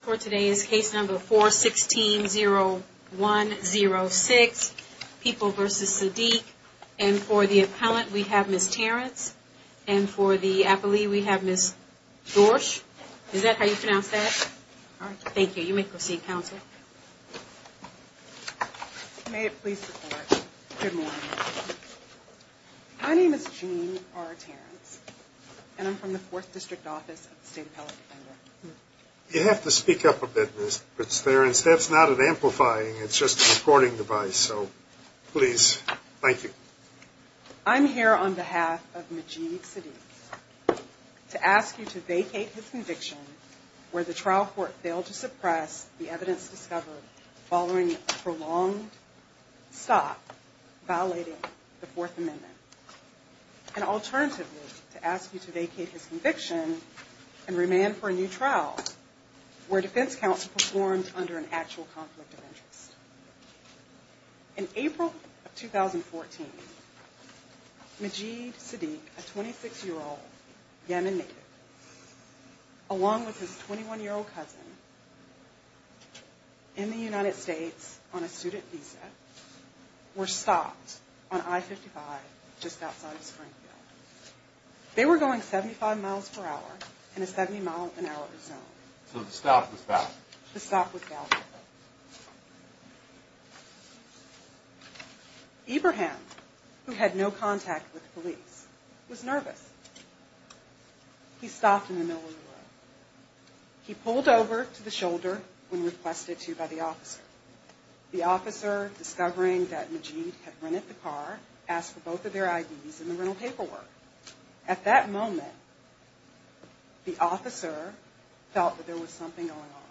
For today's case number 4-16-0-1-0-6, People v. Sadeq. And for the appellant, we have Ms. Terrence. And for the appellee, we have Ms. Dorsch. Is that how you pronounce that? All right. Thank you. You may proceed, Counsel. May it please the Court. Good morning. My name is Jean R. Terrence, and I'm from the Fourth District Office of the State Appellate Defender. You have to speak up a bit, Ms. Terrence. That's not an amplifying. It's just a recording device. So please. Thank you. I'm here on behalf of Majid Sadeq to ask you to vacate his conviction where the trial court failed to suppress the evidence discovered following a prolonged stop violating the Fourth Amendment. And alternatively, to ask you to vacate his conviction and remand for a new trial where defense counsel performed under an actual conflict of interest. In April of 2014, Majid Sadeq, a 26-year-old Yemen native, along with his 21-year-old cousin in the United States on a student visa, were stopped on I-55 just outside of Springfield. They were going 75 miles per hour in a 70-mile-an-hour zone. So the stop was valid? The stop was valid. Ibrahim, who had no contact with the police, was nervous. He stopped in the middle of the road. He pulled over to the shoulder when requested to by the officer. The officer, discovering that Majid had rented the car, asked for both of their IDs and the rental paperwork. At that moment, the officer felt that there was something going on.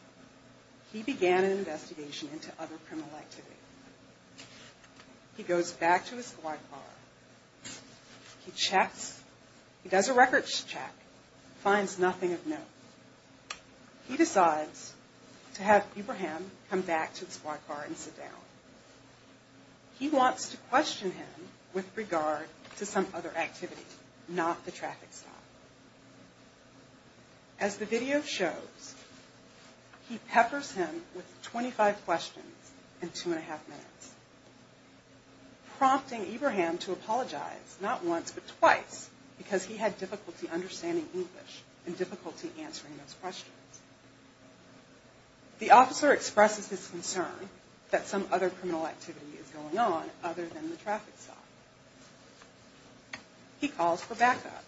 He began an investigation into other criminal activity. He goes back to his squad car. He does a records check, finds nothing of note. He decides to have Ibrahim come back to the squad car and sit down. He wants to question him with regard to some other activity, not the traffic stop. As the video shows, he peppers him with 25 questions in two and a half minutes, prompting Ibrahim to apologize, not once but twice, because he had difficulty understanding English and difficulty answering those questions. The officer expresses his concern that some other criminal activity is going on other than the traffic stop. He calls for backup,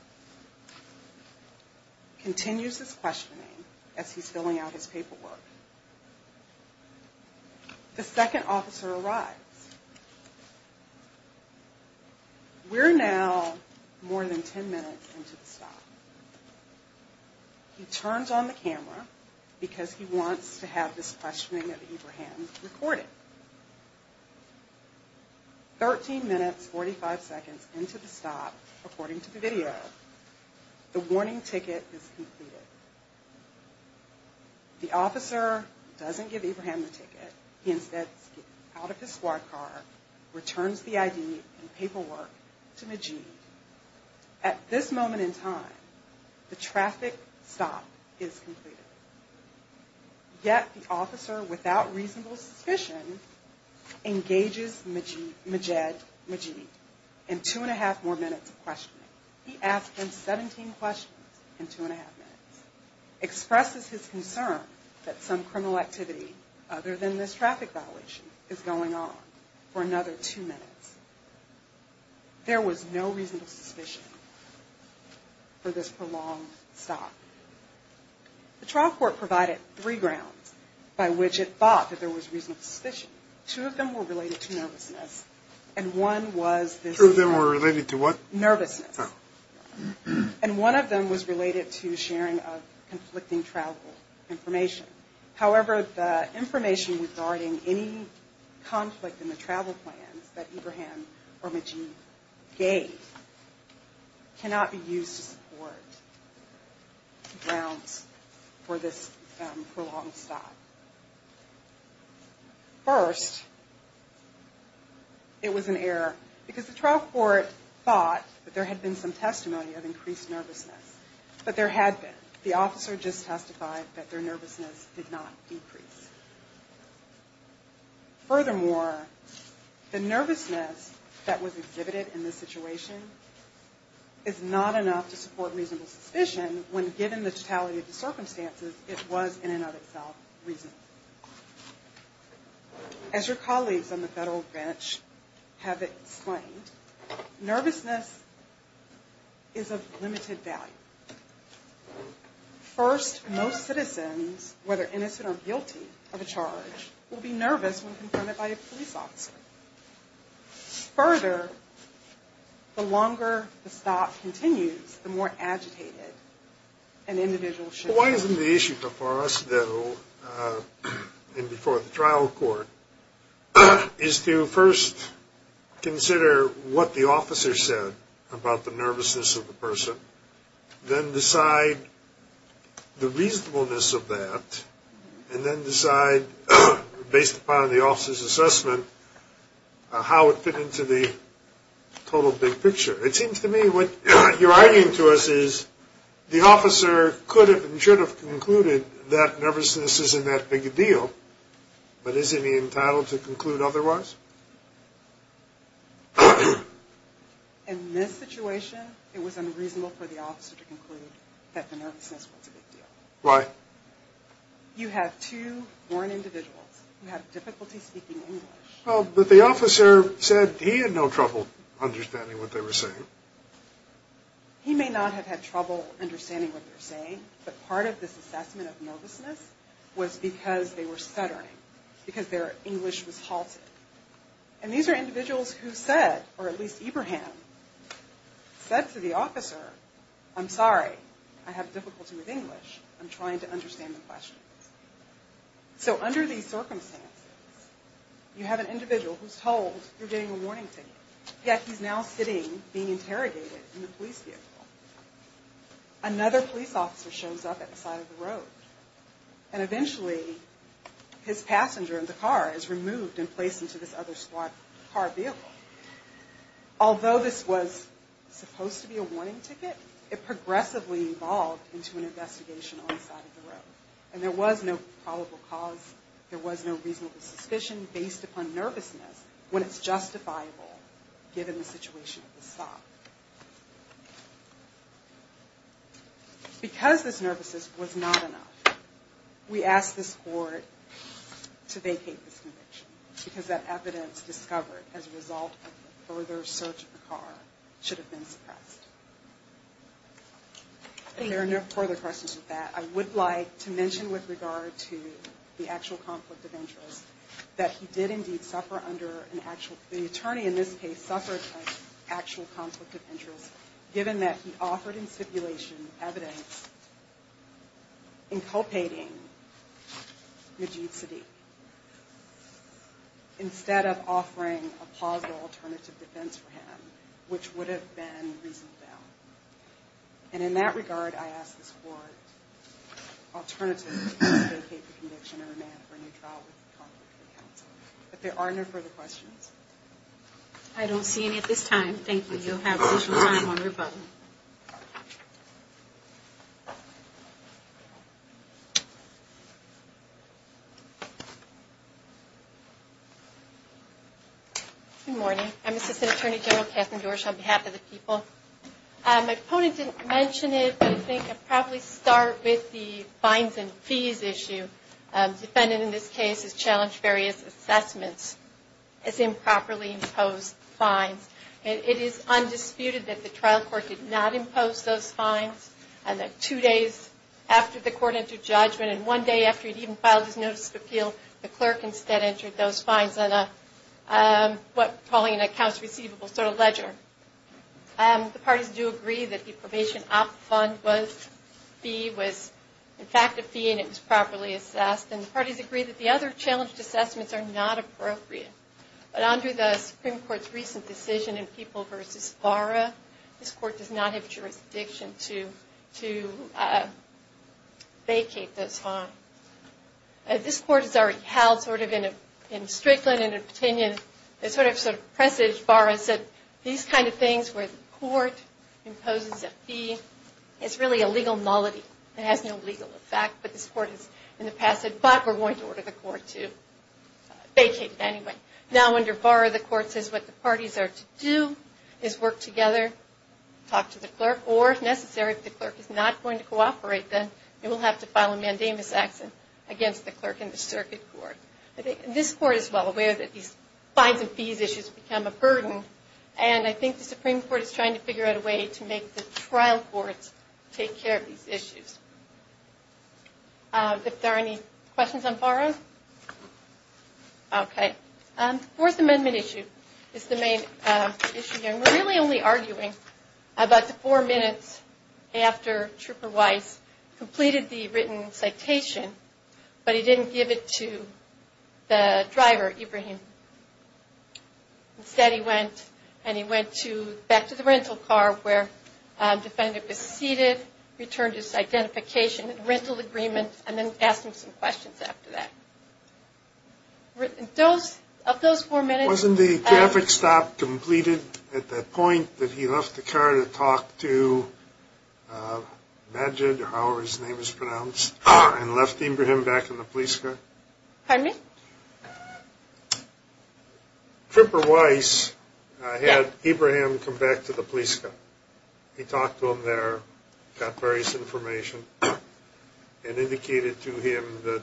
continues his questioning as he's filling out his paperwork. The second officer arrives. We're now more than 10 minutes into the stop. He turns on the camera because he wants to have this questioning of Ibrahim recorded. Thirteen minutes, 45 seconds into the stop, according to the video, the warning ticket is completed. The officer doesn't give Ibrahim the ticket. He instead skips out of his squad car, returns the ID and paperwork to Majid. At this moment in time, the traffic stop is completed. Yet the officer, without reasonable suspicion, engages Majid in two and a half more minutes of questioning. He asks him 17 questions in two and a half minutes, expresses his concern that some criminal activity other than this traffic violation is going on for another two minutes. There was no reasonable suspicion for this prolonged stop. The trial court provided three grounds by which it thought that there was reasonable suspicion. Two of them were related to nervousness, and one of them was related to sharing of conflicting travel information. However, the information regarding any conflict in the travel plans that Ibrahim or Majid gave cannot be used to support grounds for this prolonged stop. First, it was an error because the trial court thought that there had been some testimony of increased nervousness, but there had been. The officer just testified that their nervousness did not decrease. Furthermore, the nervousness that was exhibited in this situation is not enough to support reasonable suspicion when given the totality of the circumstances, it was, in and of itself, reasonable. As your colleagues on the federal branch have explained, nervousness is of limited value. First, most citizens, whether innocent or guilty, are not subject to nervousness. The person who is guilty of a charge will be nervous when confronted by a police officer. Further, the longer the stop continues, the more agitated an individual should be. In this situation, it was unreasonable for the officer to conclude that the nervousness was a big deal. You have two born individuals who have difficulty speaking English. He may not have had trouble understanding what they were saying, but part of this assessment of nervousness was because they were stuttering, because their English was halted. And these are individuals who said, or at least Ibrahim, said to the officer, I'm sorry, I have difficulty with English, I'm trying to understand the questions. So under these circumstances, you have an individual who's told you're getting a warning ticket, yet he's now sitting, being interrogated in a police vehicle. Another police officer shows up at the side of the road, and eventually his passenger in the car is removed and placed into this other street. Although this was supposed to be a warning ticket, it progressively evolved into an investigation on the side of the road. And there was no probable cause, there was no reasonable suspicion, based upon nervousness, when it's justifiable, given the situation of the stop. Because this nervousness was not enough, we asked this court to vacate this conviction. Because that evidence discovered as a result of the further search of the car should have been suppressed. And there are no further questions with that. I would like to mention with regard to the actual conflict of interest, that he did indeed suffer under an actual, the attorney in this case suffered an actual conflict of interest, given that he offered in stipulation evidence inculpating Majeed Sadiq. Instead of offering a positive alternative defense for him, which would have been reasonable. And in that regard, I ask this court, alternatively, to vacate the conviction and remand for a new trial with the Conflict of Interest Counsel. But there are no further questions. Good morning. I'm Assistant Attorney General Kathryn Dorsch on behalf of the people. My opponent didn't mention it, but I think I'd probably start with the fines and fees issue. The defendant in this case has challenged various assessments as improperly imposed fines. And it is undisputed that the trial court did not impose those fines. And that two days after the court entered judgment, and one day after he'd even filed his notice of appeal, the clerk instead entered those fines on a, what we're calling an accounts receivable sort of ledger. The parties do agree that the probation op fund fee was in fact a fee and it was properly assessed. And the parties agree that the other challenged assessments are not appropriate. But under the Supreme Court's recent decision in People v. Vara, this court does not have jurisdiction to vacate those fines. This court has already held sort of in Strickland and in Petunia, they sort of presaged Vara and said, these kind of things where the court imposes a fee, it's really a legal nullity. It has no legal effect, but this court has in the past said, but we're going to order the court to vacate it anyway. Now under Vara, the court says what the parties are to do is work together, talk to the clerk, or if necessary, if the clerk is not going to cooperate, then you will have to file a mandamus action against the clerk and the circuit court. This court is well aware that these fines and fees issues become a burden, and I think the Supreme Court is trying to figure out a way to make the trial courts take care of these issues. If there are any questions on Vara? Okay. The Fourth Amendment issue is the main issue here, and we're really only arguing about the four minutes after Trooper Weiss completed the written citation, but he didn't give it to the driver, Ibrahim. Instead he went, and he went back to the rental car where the defendant was seated, returned his identification, and then returned to the car. He gave the driver his identification, rental agreement, and then asked him some questions after that. Of those four minutes... Wasn't the traffic stop completed at the point that he left the car to talk to Majid, or however his name is pronounced, and left Ibrahim back in the police car? Pardon me? Trooper Weiss had Ibrahim come back to the police car. He talked to him there, got various information, and indicated to him that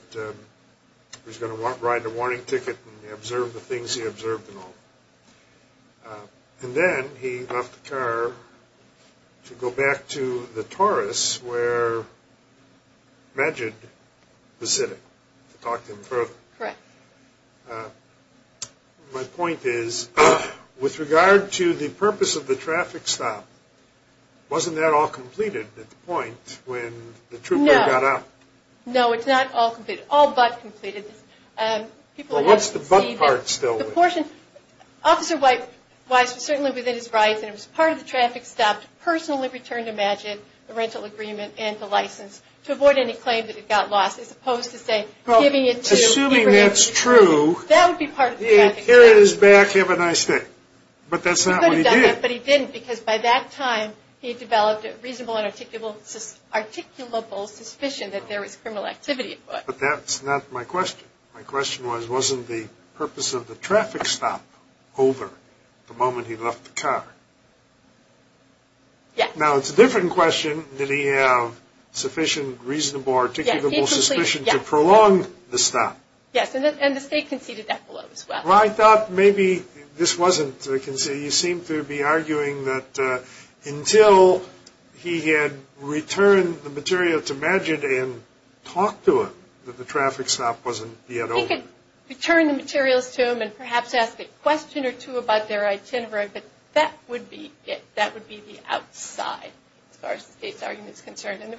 he was going to ride a warning ticket and observe the things he observed and all. And then he left the car to go back to the Taurus where Majid was sitting to talk to him further. Correct. My point is, with regard to the purpose of the traffic stop, wasn't that all completed at the point when the trooper got out? No. No, it's not all completed. All but completed. Well, what's the but part still? Officer Weiss was certainly within his rights, and it was part of the traffic stop to personally return to Majid the rental agreement and the license to avoid any claim that it got lost, as opposed to giving it to Ibrahim. That would be part of the traffic stop. He could have done that, but he didn't, because by that time he developed a reasonable and articulable suspicion that there was criminal activity at foot. But that's not my question. My question was, wasn't the purpose of the traffic stop over the moment he left the car? Yes. Now, it's a different question that he have sufficient reasonable articulable suspicion to prolong the stop. Yes, and the state conceded that below as well. Well, I thought maybe this wasn't a conceded. You seem to be arguing that until he had returned the material to Majid and talked to him that the traffic stop wasn't yet over. He could return the materials to him and perhaps ask a question or two about their itinerary, but that would be the outside. As far as the state's argument is concerned. Well,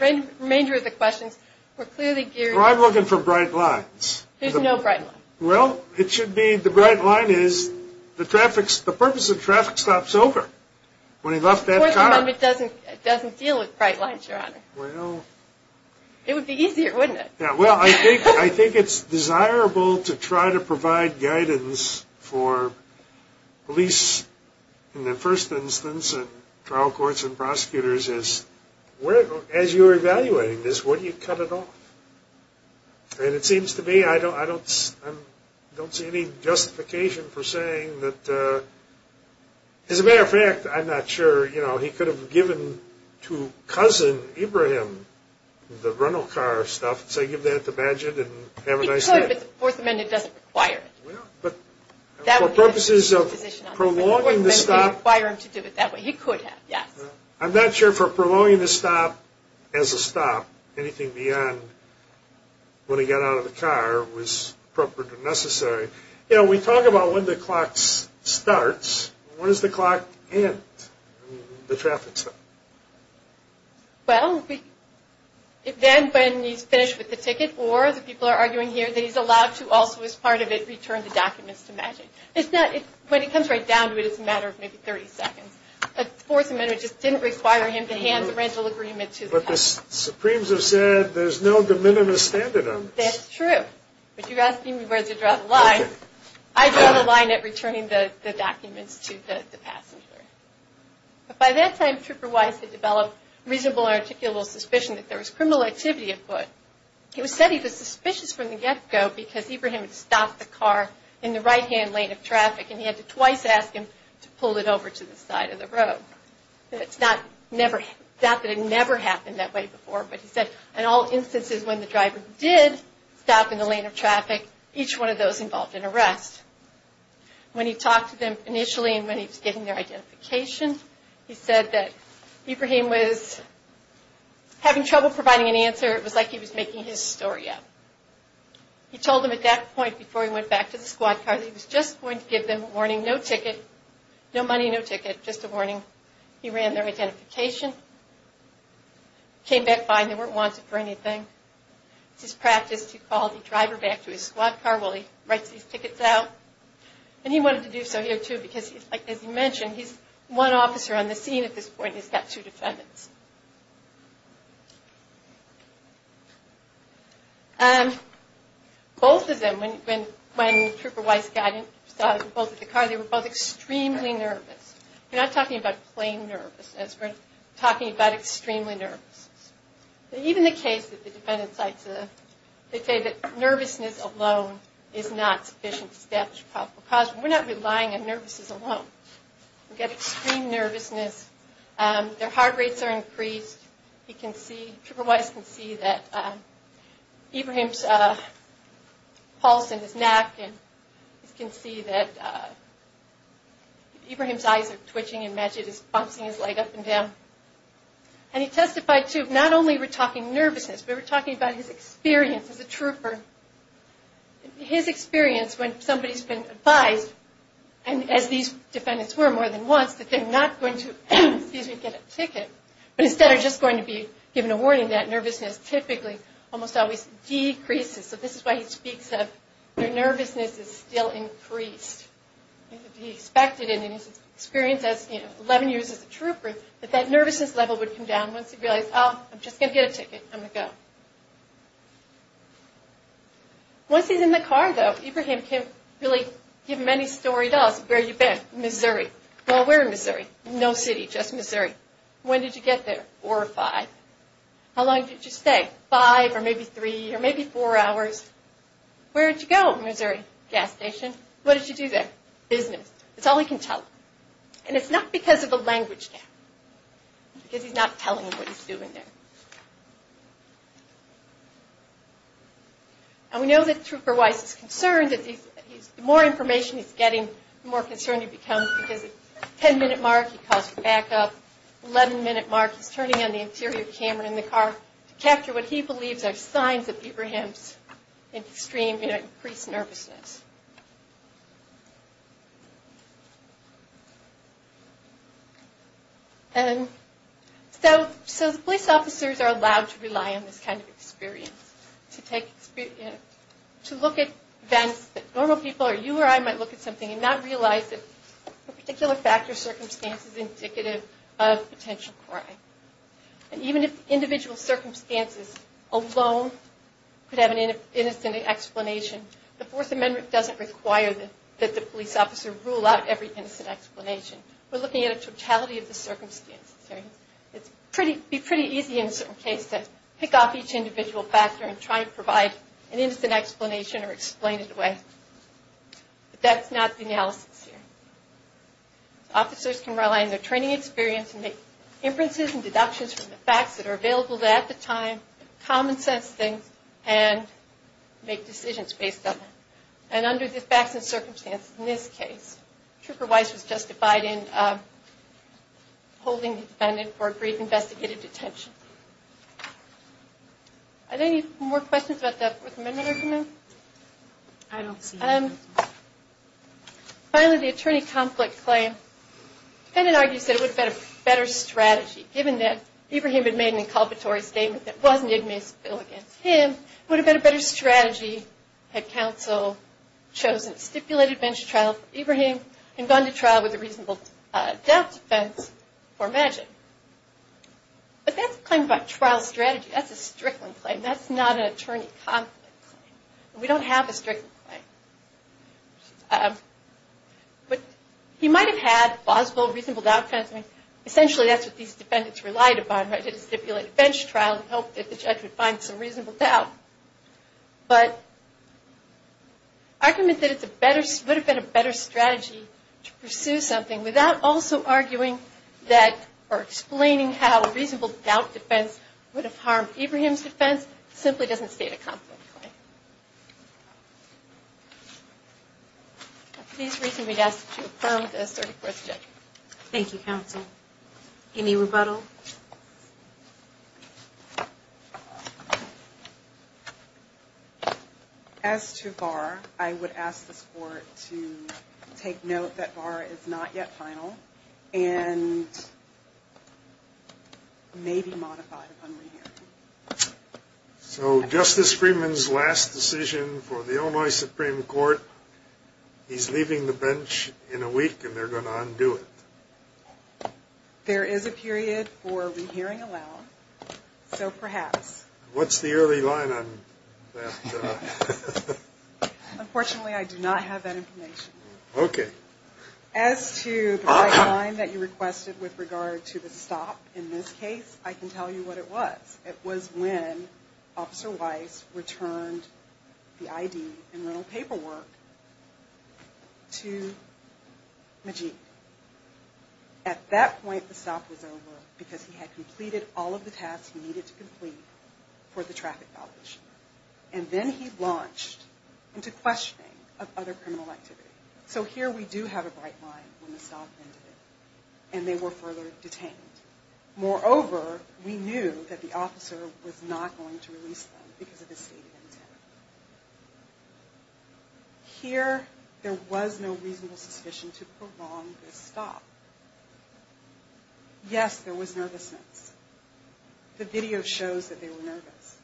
I'm looking for bright lines. There's no bright line. Well, it should be the bright line is the purpose of traffic stops over when he left that car. It doesn't deal with bright lines, Your Honor. It would be easier, wouldn't it? Well, I think it's desirable to try to provide guidance for police in the first instance and trial courts and prosecutors. As you're evaluating this, would you cut it off? And it seems to me I don't see any justification for saying that. As a matter of fact, I'm not sure. You know, he could have given to Cousin Ibrahim the rental car stuff and say, give that to Majid and have a nice day. He could, but the Fourth Amendment doesn't require it. I'm not sure if prolonging the stop as a stop, anything beyond when he got out of the car, was appropriate or necessary. You know, we talk about when the clock starts. When does the clock end, the traffic stop? Well, then when he's finished with the ticket or, as people are arguing here, that he's allowed to also, as part of it, return the documents to Majid. When it comes right down to it, it's a matter of maybe 30 seconds. The Fourth Amendment just didn't require him to hand the rental agreement to the cops. But the Supremes have said there's no de minimis standard on this. That's true, but you're asking me whether to draw the line. I draw the line at returning the documents to the passenger. By that time, Trooper Weiss had developed reasonable and articulable suspicion that there was criminal activity at foot. It was said he was suspicious from the get-go because Ibrahim had stopped the car in the right-hand lane of traffic and he had to twice ask him to pull it over to the side of the road. It's not that it never happened that way before, but he said, in all instances, when the driver did stop in the lane of traffic, each one of those involved an arrest. When he talked to them initially and when he was getting their identification, he said that Ibrahim was having trouble providing an answer. It was like he was making his story up. He told them at that point before he went back to the squad car that he was just going to give them a warning, no money, no ticket, just a warning. He ran their identification, came back fine, they weren't wanted for anything. It's his practice to call the driver back to his squad car while he writes these tickets out. He wanted to do so here, too, because, as he mentioned, he's one officer on the scene at this point and he's got two defendants. Both of them, when Trooper Weiss saw them both at the car, they were both extremely nervous. We're not talking about plain nervousness. We're talking about extremely nervousness. Even the case that the defendants say that nervousness alone is not sufficient to establish a probable cause, we're not relying on nervousness alone. We've got extreme nervousness, their heart rates are increased. Trooper Weiss can see that Ibrahim's pulse in his neck, and he can see that Ibrahim's eyes are twitching and Majid is bouncing his leg up and down. And he testified, too, not only were we talking nervousness, but we were talking about his experience as a trooper. His experience when somebody's been advised, as these defendants were more than once, that they're not going to get a ticket, but instead are just going to be given a warning, that nervousness typically almost always decreases. So this is why he speaks of their nervousness is still increased. He expected it in his experience as, you know, 11 years as a trooper, that that nervousness level would come down once he realized, oh, I'm just going to get a ticket, I'm going to go. Once he's in the car, though, Ibrahim can't really give them any story at all. Where have you been? Missouri. Well, where in Missouri? No city, just Missouri. When did you get there? Four or five. How long did you stay? Five or maybe three or maybe four hours. Where did you go? Missouri Gas Station. What did you do there? Business. That's all he can tell them. And it's not because of the language now, because he's not telling them what he's doing there. And we know that Trooper Weiss is concerned that the more information he's getting, the more concerned he becomes, because at the 10-minute mark, he calls for backup. At the 11-minute mark, he's turning on the interior camera in the car to capture what he believes are signs of Ibrahim's extreme, you know, increased nervousness. And so the police officers are allowed to rely on this kind of experience to look at events that normal people or you or I might look at something and not realize that a particular factor or circumstance is indicative of potential crime. And even if individual circumstances alone could have an innocent explanation, the Fourth Amendment doesn't require that the police officer rule out every innocent explanation. We're looking at a totality of the circumstances. It would be pretty easy in a certain case to pick off each individual factor and try to provide an innocent explanation or explain it away. But that's not the analysis here. Officers can rely on their training experience and make inferences and deductions from the facts that are available at the time, common sense things, and make decisions based on that. And under the facts and circumstances in this case, Trooper Weiss was justified in holding the defendant for a brief investigative detention. Are there any more questions about the Fourth Amendment argument? I don't see any. Finally, the attorney conflict claim. The defendant argues that it would have been a better strategy, given that Ibrahim had made an inculpatory statement that wasn't ignominious against him. It would have been a better strategy had counsel chosen a stipulated bench trial for Ibrahim and gone to trial with a reasonable doubt defense for Magic. But that's a claim about trial strategy. That's a Strickland claim. That's not an attorney conflict claim. We don't have a Strickland claim. But he might have had plausible, reasonable doubt defense. Essentially, that's what these defendants relied upon, right? To stipulate a bench trial and hope that the judge would find some reasonable doubt. But the argument that it would have been a better strategy to pursue something without also arguing or explaining how a reasonable doubt defense would have harmed Ibrahim's defense simply doesn't state a conflict claim. For these reasons, we'd ask that you affirm the asserted fourth judgment. Thank you, counsel. Any rebuttal? As to Barr, I would ask the Court to take note that Barr is not yet final and may be modified upon re-hearing. So Justice Freeman's last decision for the Illinois Supreme Court, he's leaving the bench in a week and they're going to undo it. There is a period for a re-hearing allow, so perhaps. What's the early line on that? Unfortunately, I do not have that information. As to the deadline that you requested with regard to the stop in this case, I can tell you what it was. It was when Officer Weiss returned the ID and rental paperwork to Majid. At that point, the stop was over because he had completed all of the tasks he needed to complete for the traffic violation. And then he launched into questioning of other criminal activity. So here we do have a bright line when the stop ended and they were further detained. Moreover, we knew that the officer was not going to release them because of his stated intent. Here, there was no reasonable suspicion to prolong this stop. Yes, there was nervousness. The video shows that they were nervous.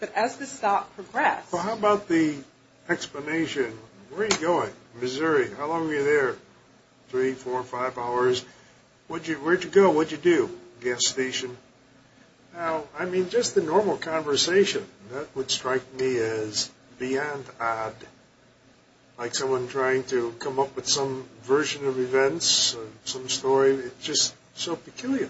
But as the stop progressed... How about the explanation? Where are you going? Missouri. How long are you there? Three, four, five hours. Where did you go? What did you do? Gas station. Just the normal conversation. That would strike me as beyond odd. Like someone trying to come up with some version of events, some story. It's just so peculiar.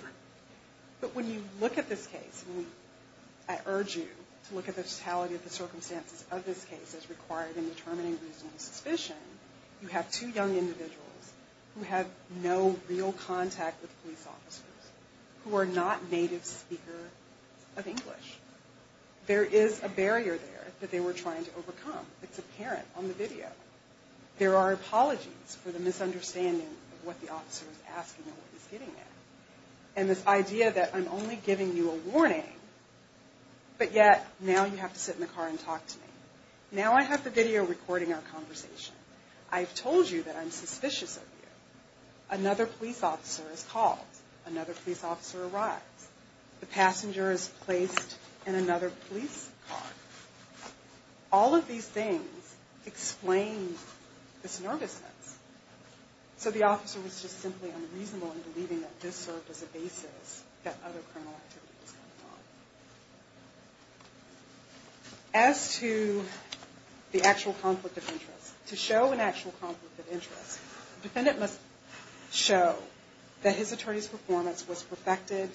I urge you to look at the totality of the circumstances of this case as required in determining reasonable suspicion. You have two young individuals who have no real contact with police officers who are not native speakers of English. There is a barrier there that they were trying to overcome. It's apparent on the video. There are apologies for the misunderstanding of what the officer is asking and what he's getting at. And this idea that I'm only giving you a warning, but yet now you have to sit in the car and talk to me. Now I have the video recording our conversation. I've told you that I'm suspicious of you. Another police officer is called. Another police officer arrives. The passenger is placed in another police car. All of these things explain this nervousness. So the officer was just simply unreasonable in believing that this served as a basis that other criminal activity was going on. As to the actual conflict of interest, to show an actual conflict of interest, the defendant must show that his attorney's performance was perfected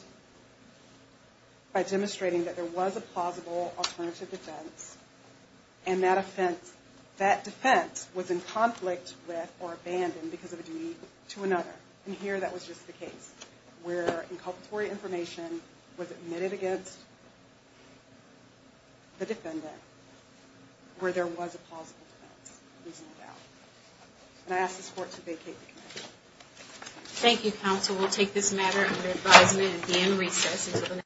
by demonstrating that there was a plausible alternative defense, and that defense was in conflict with or abandoned because of a duty to another. And here that was just the case where inculpatory information was admitted against the defendant where there was a plausible defense. And I ask this Court to vacate the committee.